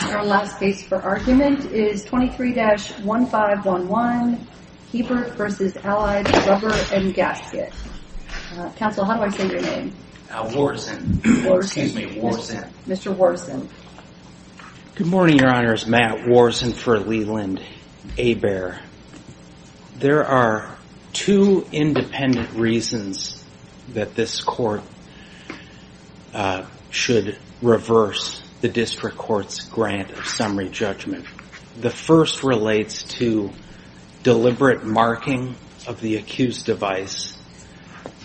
Our last case for argument is 23-1511 Hebert v. Allied Rubber & Gasket. Counsel, how do I say your name? Worson. Excuse me, Worson. Mr. Worson. Good morning, Your Honors. Matt Worson for Leland-Hebert. There are two independent reasons that this court should reverse the District Court's grant of summary judgment. The first relates to deliberate marking of the accused device.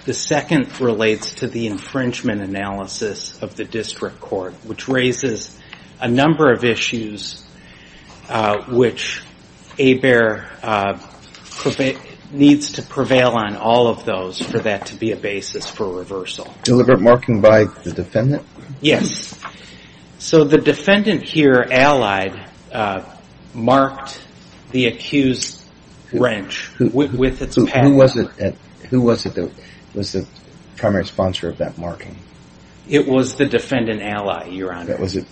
The second relates to the infringement analysis of the District Court, which raises a number of issues which Hebert needs to prevail on all of those for that to be a basis for reversal. Deliberate marking by the defendant? Yes. So the defendant here, Allied, marked the accused wrench with its pattern. Who was it that was the primary sponsor of that marking? It was the defendant, Allied, Your Honor. That was it.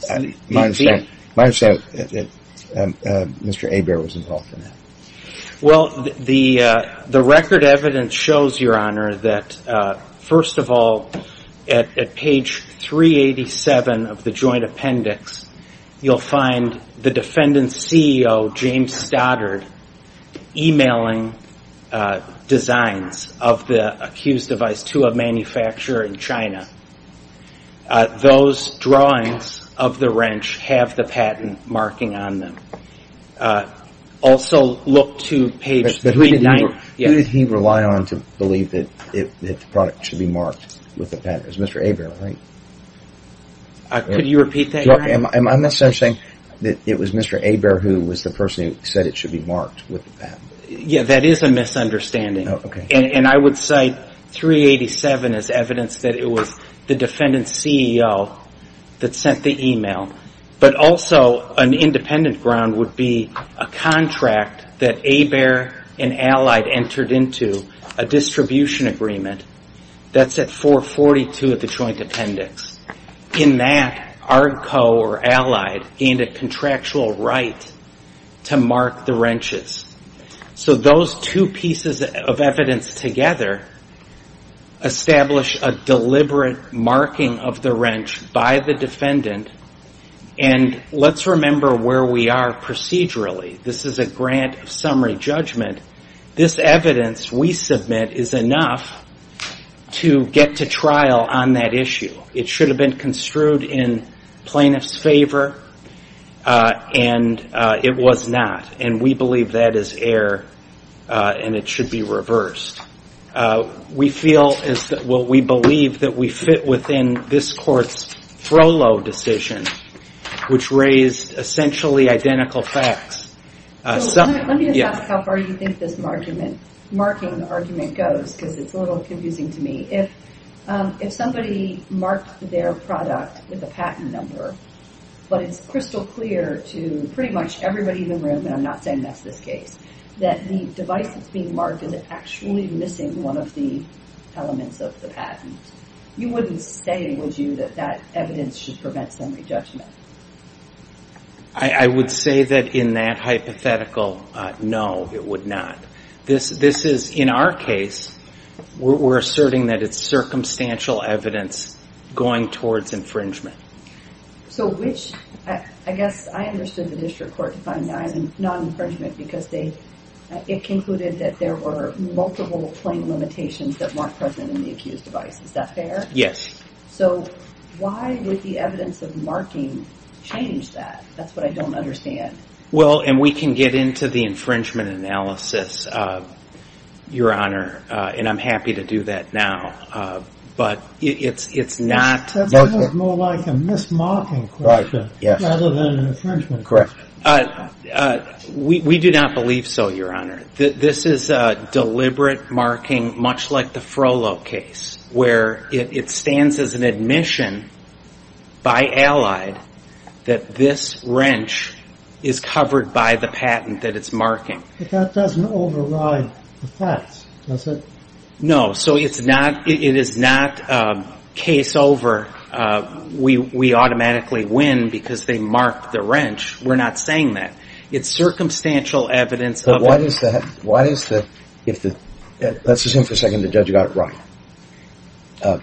My understanding is that Mr. Hebert was involved in that. Well, the record evidence shows, Your Honor, that first of all, at page 387 of the joint appendix, you'll find the defendant's CEO, James Stoddard, emailing designs of the accused device to a manufacturer in China. Those drawings of the wrench have the patent marking on them. But who did he rely on to believe that the product should be marked with the patent? It was Mr. Hebert, right? Could you repeat that, Your Honor? I'm not saying that it was Mr. Hebert who was the person who said it should be marked with the patent. Yeah, that is a misunderstanding. And I would cite 387 as evidence that it was the defendant's CEO that sent the email. But also, an independent ground would be a contract that Hebert and Allied entered into, a distribution agreement. That's at 442 of the joint appendix. In that, ARDCO or Allied gained a contractual right to mark the wrenches. So those two pieces of evidence together establish a deliberate marking of the wrench by the defendant. And let's remember where we are procedurally. This is a grant of summary judgment. This evidence we submit is enough to get to trial on that issue. It should have been construed in plaintiff's favor, and it was not. And we believe that is error, and it should be reversed. What we feel is that, well, we believe that we fit within this court's FROLO decision, which raised essentially identical facts. Let me just ask how far you think this marking argument goes, because it's a little confusing to me. If somebody marked their product with a patent number, but it's crystal clear to pretty much everybody in the room, and I'm not saying that's this case, that the device that's being marked is actually missing one of the elements of the patent, you wouldn't say, would you, that that evidence should prevent summary judgment? I would say that in that hypothetical, no, it would not. In our case, we're asserting that it's circumstantial evidence going towards infringement. So which, I guess I understood the district court defining non-infringement because it concluded that there were multiple claim limitations that weren't present in the accused device. Is that fair? Yes. So why would the evidence of marking change that? That's what I don't understand. Well, and we can get into the infringement analysis, Your Honor, and I'm happy to do that now, but it's not... That sounds more like a mismarking question rather than an infringement question. Correct. We do not believe so, Your Honor. This is a deliberate marking, much like the Frollo case, where it stands as an admission by Allied that this wrench is covered by the patent that it's marking. But that doesn't override the facts, does it? No. So it is not case over, we automatically win because they marked the wrench. We're not saying that. It's circumstantial evidence of... Why is that? Let's assume for a second the judge got it right. I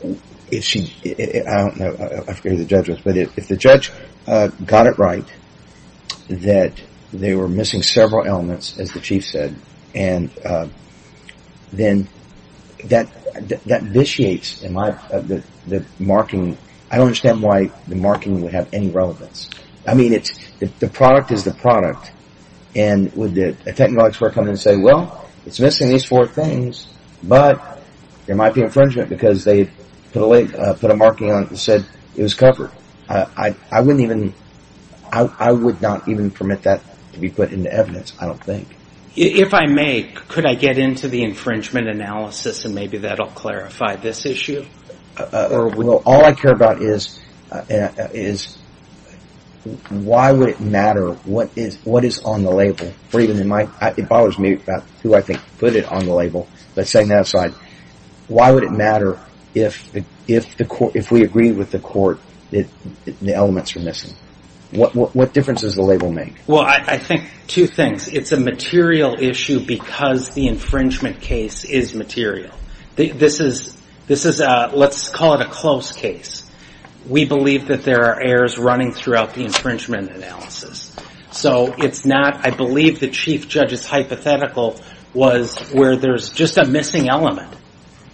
don't know who the judge was, but if the judge got it right, that they were missing several elements, as the chief said, and then that vitiates the marking. I don't understand why the marking would have any relevance. The product is the product. And would a technology expert come in and say, well, it's missing these four things, but there might be infringement because they put a marking on it and said it was covered. I would not even permit that to be put into evidence, I don't think. If I may, could I get into the infringement analysis and maybe that'll clarify this issue? Well, all I care about is why would it matter what is on the label? It bothers me about who I think put it on the label, but setting that aside, why would it matter if we agree with the court that the elements were missing? What difference does the label make? Well, I think two things. It's a material issue because the infringement case is material. This is, let's call it a close case. We believe that there are errors running throughout the infringement analysis. So it's not, I believe the chief judge's hypothetical was where there's just a missing element.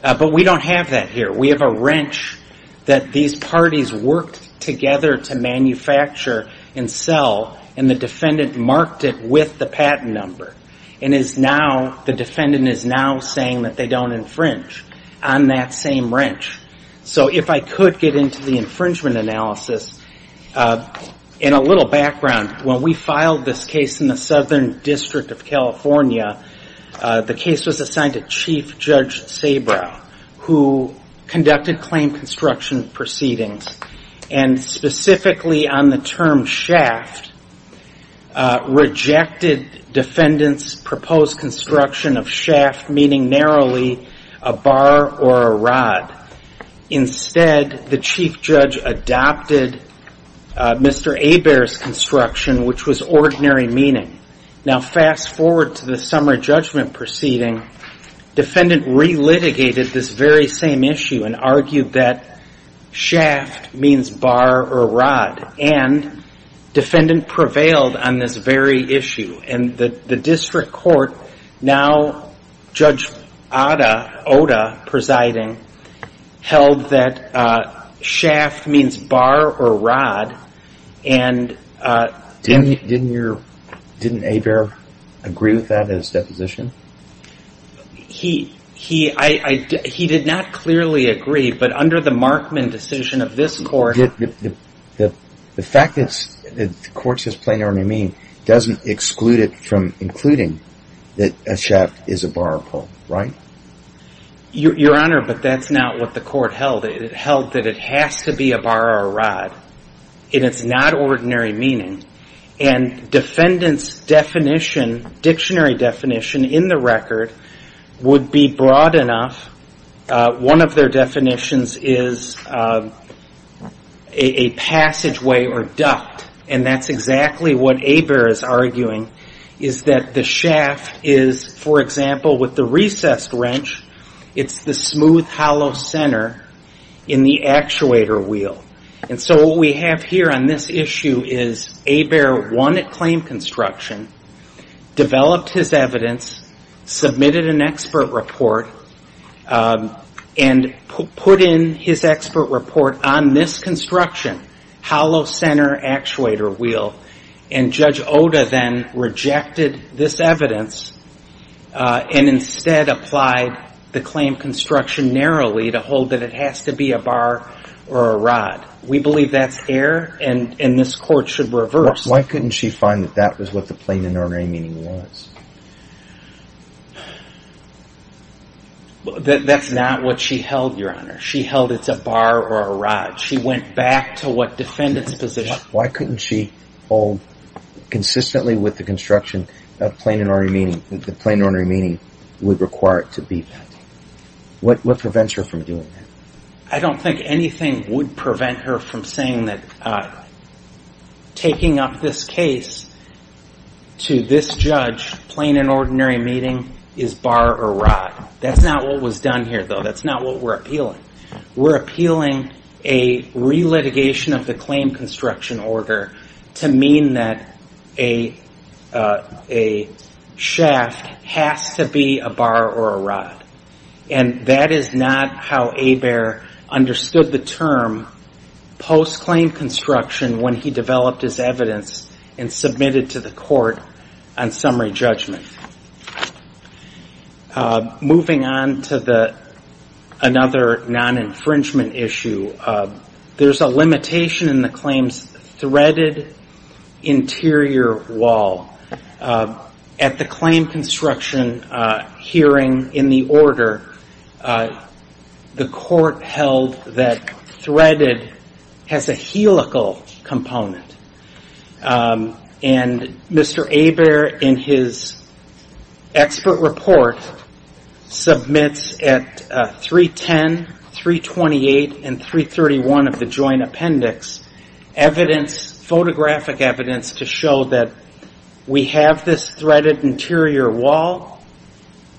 But we don't have that here. We have a wrench that these parties worked together to manufacture and sell, and the defendant marked it with the patent number. And is now, the defendant is now saying that they don't infringe on that same wrench. So if I could get into the infringement analysis, in a little background, when we filed this case in the Southern District of California, the case was assigned to Chief Judge Sabra, who conducted claim construction proceedings. And specifically on the term shaft, rejected defendant's proposed construction of shaft, meaning narrowly a bar or a rod. Instead, the chief judge adopted Mr. Hebert's construction, which was ordinary meaning. Now, fast forward to the summer judgment proceeding, defendant re-litigated this very same issue and argued that shaft means bar or rod. And defendant prevailed on this very issue. And the district court, now Judge Oda presiding, held that shaft means bar or rod. And didn't Hebert agree with that in his deposition? He did not clearly agree. But under the Markman decision of this court... The fact that the court says plain ordinary mean doesn't exclude it from including that a shaft is a bar or rod, right? Your Honor, but that's not what the court held. It held that it has to be a bar or rod. And it's not ordinary meaning. And defendant's dictionary definition in the record would be broad enough. One of their definitions is a passageway or duct. And that's exactly what Hebert is arguing, is that the shaft is, for example, with the recessed wrench, it's the smooth hollow center in the actuator wheel. And so what we have here on this issue is Hebert won at claim construction, developed his evidence, submitted an expert report, and put in his expert report on this construction, hollow center actuator wheel. And Judge Oda then rejected this evidence and instead applied the claim construction narrowly to hold that it has to be a bar or a rod. We believe that's error and this court should reverse. Why couldn't she find that that was what the plain ordinary meaning was? That's not what she held, Your Honor. She held it's a bar or a rod. She went back to what defendant's position. Why couldn't she hold consistently with the construction of plain ordinary meaning that the plain ordinary meaning would require it to be that? What prevents her from doing that? I don't think anything would prevent her from saying that taking up this case to this judge, plain and ordinary meeting is bar or rod. That's not what was done here, though. That's not what we're appealing. We're appealing a relitigation of the claim construction order to mean that a shaft has to be a bar or a rod. And that is not how Hebert understood the term post-claim construction when he developed his evidence and submitted to the court on summary judgment. Moving on to another non-infringement issue, there's a limitation in the claims threaded interior wall. At the claim construction hearing in the order, the court held that threaded has a helical component. And Mr. Hebert in his expert report submits at 310, 328, and 331 of the joint appendix evidence, photographic evidence to show that we have this threaded interior wall,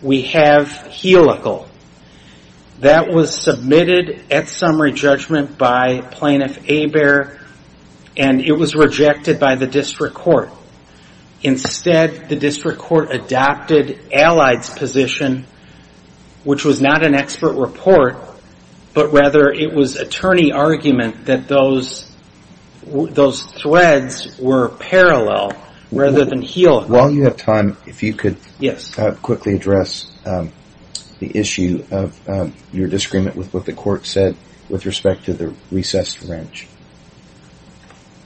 we have helical. That was submitted at summary judgment by plaintiff Hebert, and it was rejected by the district court. Instead, the district court adopted Allied's position, which was not an expert report, but rather it was attorney argument that those threads were parallel rather than helical. While you have time, if you could quickly address the issue of your disagreement with what the court said with respect to the recessed wrench.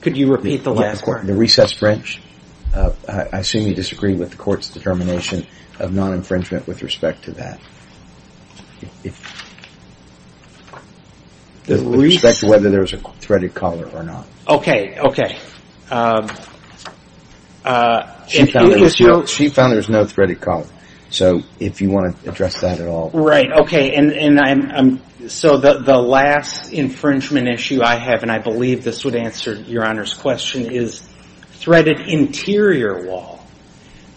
Could you repeat the last part? The recessed wrench. I assume you disagree with the court's determination of non-infringement with respect to that. With respect to whether there was a threaded collar or not. Okay. Okay. She found there was no threaded collar. So if you want to address that at all. Right. Okay. So the last infringement issue I have, and I believe this would answer your Honor's question, is threaded interior wall.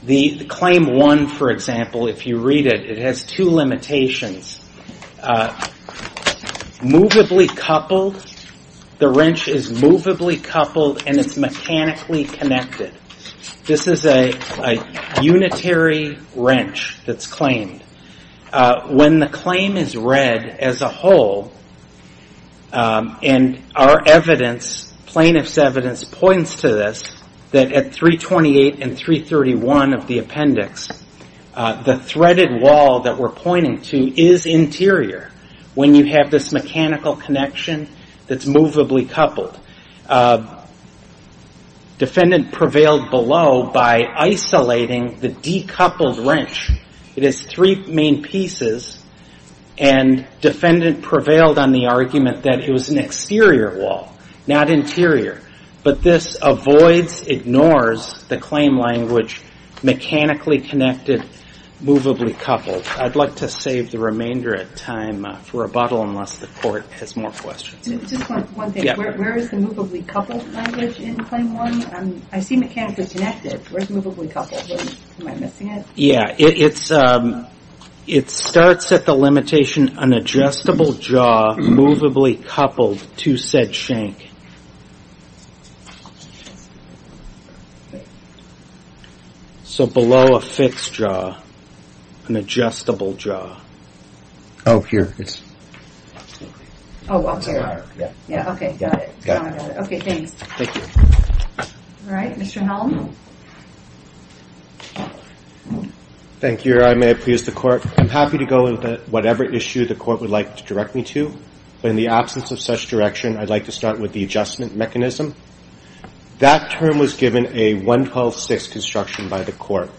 The claim one, for example, if you read it, it has two limitations. Moveably coupled. The wrench is moveably coupled and it's mechanically connected. This is a unitary wrench that's claimed. When the claim is read as a whole, and our evidence, plaintiff's evidence, points to this, that at 328 and 331 of the appendix, the threaded wall that we're pointing to is interior. When you have this mechanical connection, that's moveably coupled. Defendant prevailed below by isolating the decoupled wrench. It has three main pieces. And defendant prevailed on the argument that it was an exterior wall, not interior. But this avoids, ignores the claim language, mechanically connected, moveably coupled. I'd like to save the remainder of time for rebuttal, unless the court has more questions. Just one thing. Where is the moveably coupled language in claim one? I see mechanically connected. Where's moveably coupled? Am I missing it? Yeah. It starts at the limitation, unadjustable jaw, moveably coupled to said shank. So below a fixed jaw, an adjustable jaw. Oh, here. Oh, up here. Yeah. Okay. Got it. Got it. Okay. Thanks. Thank you. All right. Mr. Helm. Thank you. I may please the court. I'm happy to go with whatever issue the court would like to direct me to. But in the absence of such direction, I'd like to start with the adjustment mechanism. That term was given a 112.6 construction by the court.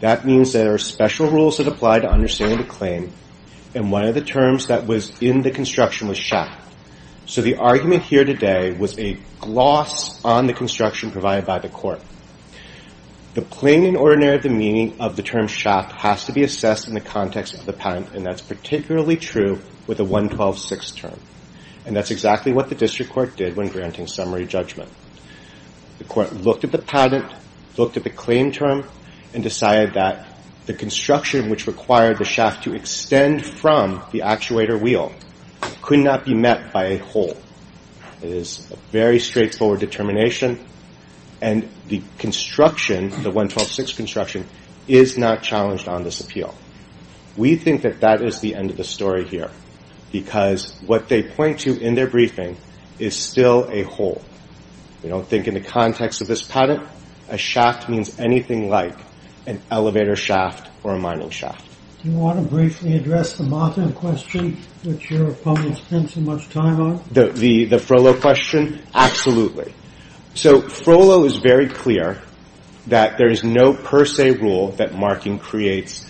That means there are special rules that apply to understanding the claim. And one of the terms that was in the construction was shack. So the argument here today was a gloss on the construction provided by the court. The plain and ordinary of the meaning of the term shack has to be assessed in the context of the patent. And that's particularly true with a 112.6 term. And that's exactly what the district court did when granting summary judgment. The court looked at the patent, looked at the claim term, and decided that the construction which required the shack to extend from the actuator wheel could not be met by a whole. It is a very straightforward determination. And the construction, the 112.6 construction is not challenged on this appeal. We think that that is the end of the story here. Because what they point to in their briefing is still a whole. We don't think in the context of this patent a shack means anything like an elevator shaft or a mining shaft. Do you want to briefly address the Martin question which your opponents spend so much time on? The Frohlo question? Absolutely. So Frohlo is very clear that there is no per se rule that marking creates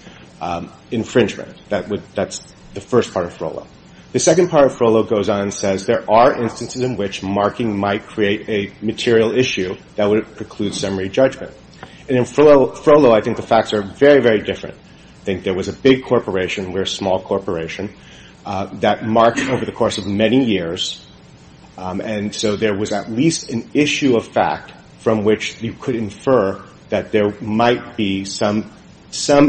infringement. That's the first part of Frohlo. The second part of Frohlo goes on and says there are instances in which marking might create a material issue that would preclude summary judgment. And in Frohlo, I think the facts are very, very different. I think there was a big corporation, we're a small corporation, that marked over the course of many years. And so there was at least an issue of fact from which you could infer that there might be some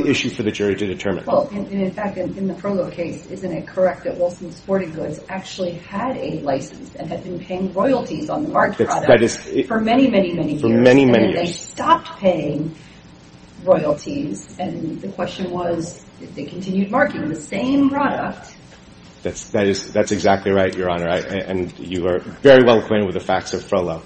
issue for the jury to determine. Well, and in fact, in the Frohlo case, isn't it correct that Wilson Sporting Goods actually had a license and had been paying royalties on the marked product for many, many, many years? For many, many years. And then they stopped paying royalties and the question was if they continued marking the same product. That's exactly right, Your Honor. And you are very well acquainted with the facts of Frohlo.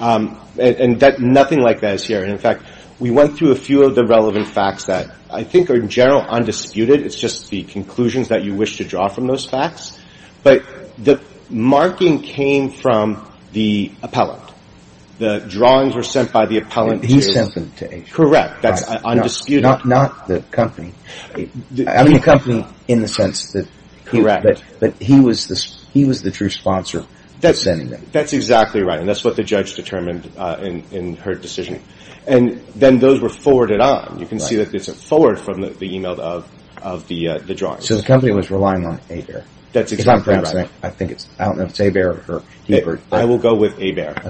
And nothing like that is here. And in fact, we went through a few of the relevant facts that I think are in general undisputed. It's just the conclusions that you wish to draw from those facts. But the marking came from the appellant. The drawings were sent by the appellant. He sent them to Asia. Correct. That's undisputed. Not the company. I mean, the company in the sense that... Correct. But he was the true sponsor of sending them. That's exactly right. And that's what the judge determined in her decision. And then those were forwarded on. You can see that this is forward from the email of the drawings. So the company was relying on Asia. That's exactly right. I think it's, I don't know if it's Hebert or Hebert. I will go with Hebert.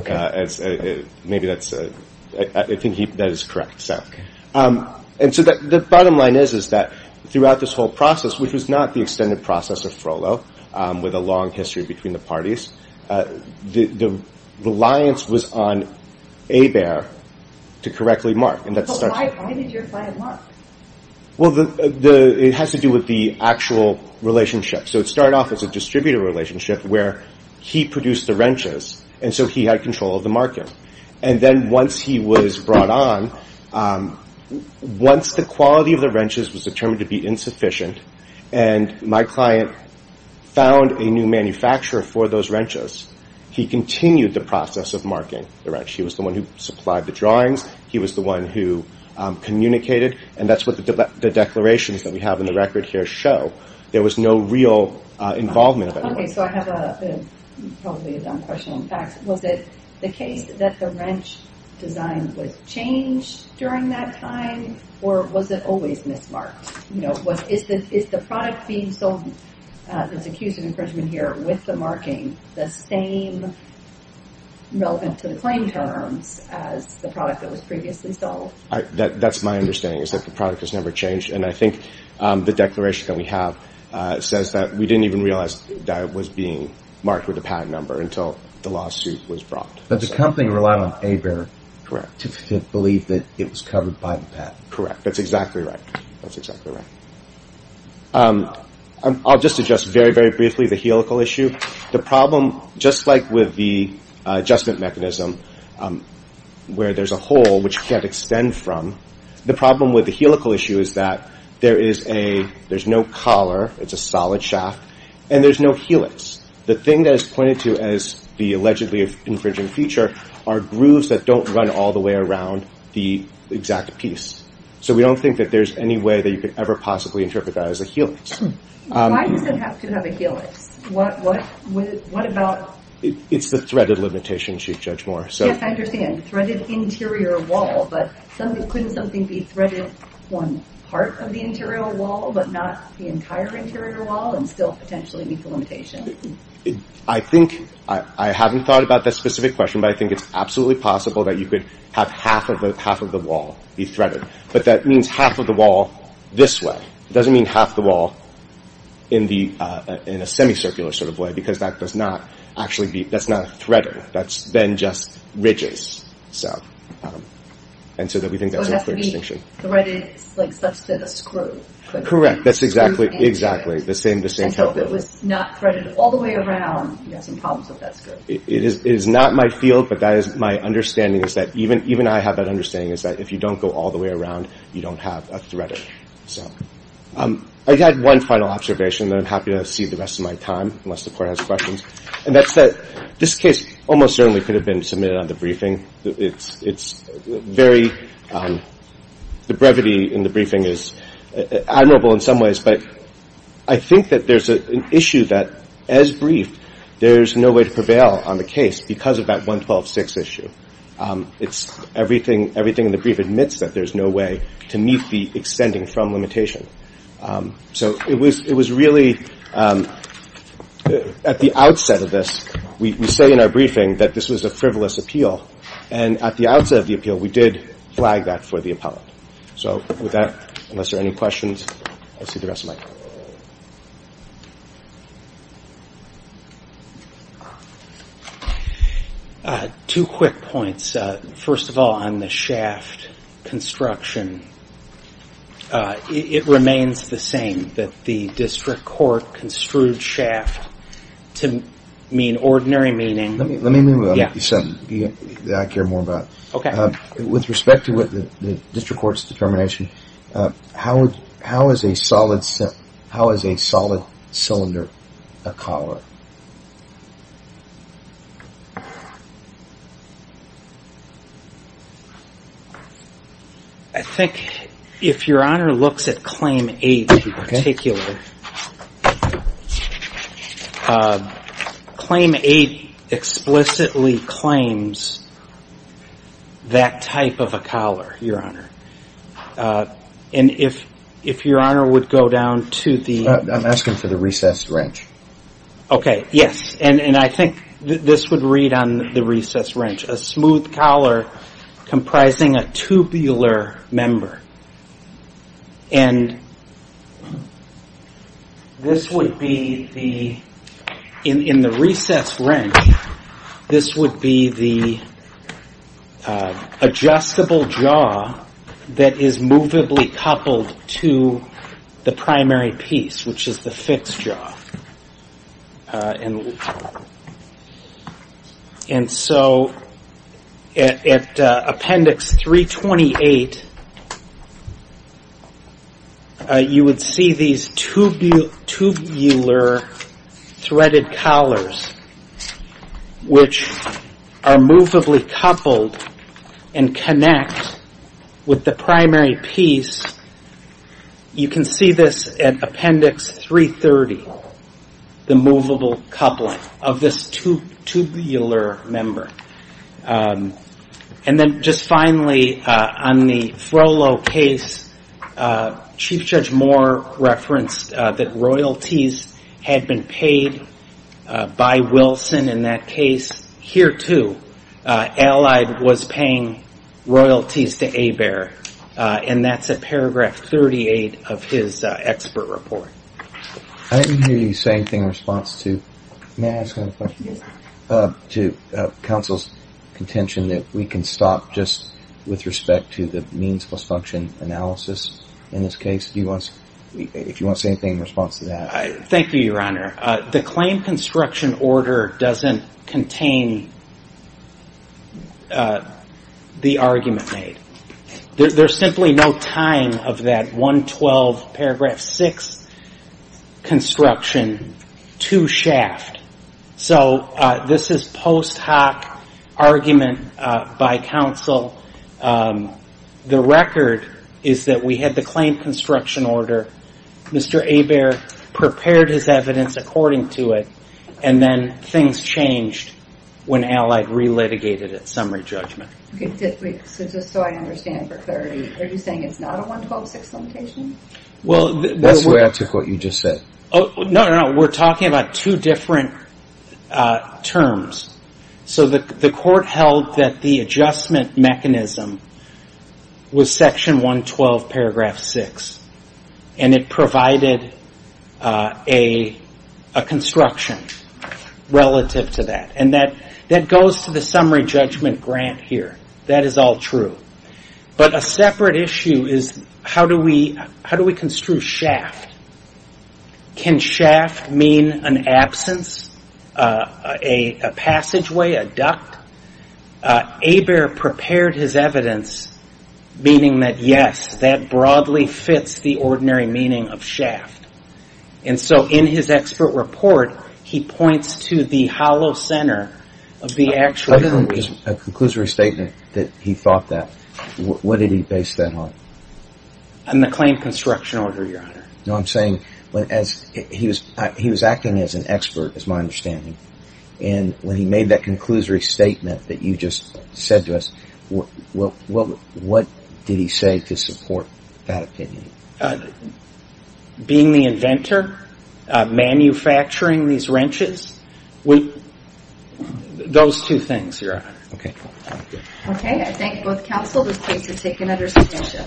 Maybe that's, I think that is correct. And so the bottom line is, is that throughout this whole process, which was not the extended process of Frohlo with a long history between the parties, the reliance was on Hebert to correctly mark. But why did your client mark? Well, it has to do with the actual relationship. So it started off as a distributor relationship where he produced the wrenches. And so he had control of the market. And then once he was brought on, once the quality of the wrenches was determined to be insufficient, and my client found a new manufacturer for those wrenches, he continued the process of marking the wrench. He was the one who supplied the drawings. He was the one who communicated. And that's what the declarations that we have in the record here show. There was no real involvement. Okay, so I have probably a dumb question. In fact, was it the case that the wrench design was changed during that time? Or was it always mismarked? You know, is the product being sold, there's a case of infringement here with the marking, the same relevant to the claim terms as the product that was previously sold? That's my understanding, is that the product has never changed. And I think the declaration that we have says that we didn't even realize that it was being marked with a patent number until the lawsuit was brought. But the company relied on ABAIR to believe that it was covered by the patent. Correct, that's exactly right. That's exactly right. I'll just address very, very briefly the helical issue. The problem, just like with the adjustment mechanism, where there's a hole which you can't extend from, the problem with the helical issue is that there's no collar, it's a solid shaft, and there's no helix. The thing that is pointed to as the allegedly infringing feature are grooves that don't run all the way around the exact piece. So we don't think that there's any way that you could ever possibly interpret that as a helix. Why does it have to have a helix? What about... It's the threaded limitation, Chief Judge Moore. Yes, I understand. Threaded interior wall, couldn't something be threaded one part of the interior wall, but not the entire interior wall, and still potentially meet the limitation? I think, I haven't thought about that specific question, but I think it's absolutely possible that you could have half of the wall be threaded. But that means half of the wall this way. It doesn't mean half the wall in a semicircular sort of way, because that does not actually be, that's not threaded. That's then just ridges. And so that we think that's a clear extinction. So it has to be threaded, like, such that a screw could... Correct, that's exactly, exactly. The same type of... And so if it was not threaded all the way around, you have some problems with that screw. It is not my field, but that is my understanding, is that even I have that understanding, is that if you don't go all the way around, you don't have a threaded, so. I had one final observation that I'm happy to see the rest of my time, unless the court has questions. And that's that this case almost certainly could have been submitted on the briefing. It's very, the brevity in the briefing is admirable in some ways, but I think that there's an issue that as briefed, there's no way to prevail on the case because of that 112.6 issue. It's everything, everything in the brief admits that there's no way to meet the extending from limitation. So it was really at the outset of this, we say in our briefing that this was a frivolous appeal. And at the outset of the appeal, we did flag that for the appellate. So with that, unless there are any questions, I'll see the rest of my time. Two quick points. First of all, on the shaft construction, it remains the same that the district court construed shaft to mean ordinary meaning. Let me, let me move on what you said. I care more about with respect to what the district court's determination. How, how is a solid set? How is a solid cylinder a collar? I think if your honor looks at claim eight, take you. Claim eight explicitly claims that type of a collar, your honor. And if, if your honor would go down to the, I'm asking for the recessed wrench. Okay. Yes. And, and I think this would read on the recessed wrench, a smooth collar comprising a tubular member. And this would be the, in, in the recessed wrench, this would be the adjustable jaw that is movably coupled to the primary piece, which is the fixed jaw. And so at appendix 328, you would see these tubular threaded collars, which are movably coupled and connect with the primary piece. You can see this at appendix 330, the movable coupling of this tubular member. And then just finally, on the Frollo case, Chief Judge Moore referenced that royalties had been paid by Wilson in that case. Here too, Allied was paying royalties to Hebert. And that's at paragraph 38 of his expert report. I didn't hear you say anything in response to, may I ask another question? Yes. To counsel's contention that we can stop just with respect to the means plus function analysis in this case. If you want to say anything in response to that. Thank you, Your Honor. The claim construction order doesn't contain the argument made. There's simply no time of that 112 paragraph six construction to shaft. So this is post hoc argument by counsel. The record is that we had the claim construction order. Mr. Hebert prepared his evidence according to it. And then things changed when Allied re-litigated at summary judgment. Okay, so just so I understand for clarity, are you saying it's not a 112 six limitation? Well, that's where I took what you just said. Oh, no, no, no. We're talking about two different terms. So the court held that the adjustment mechanism was section 112 paragraph six. And it provided a construction relative to that. And that goes to the summary judgment grant here. That is all true. But a separate issue is how do we construe shaft? Can shaft mean an absence, a passageway, a duct? Hebert prepared his evidence, meaning that, yes, that broadly fits the ordinary meaning of shaft. And so in his expert report, he points to the hollow center of the actual reason. A conclusory statement that he thought that. On the claim construction order, Your Honor. No, I'm saying he was acting as an expert, is my understanding. And when he made that conclusory statement that you just said to us, what did he say to support that opinion? Being the inventor, manufacturing these wrenches. Those two things, Your Honor. Okay. Okay, I thank both counsel. This case is taken under substantial.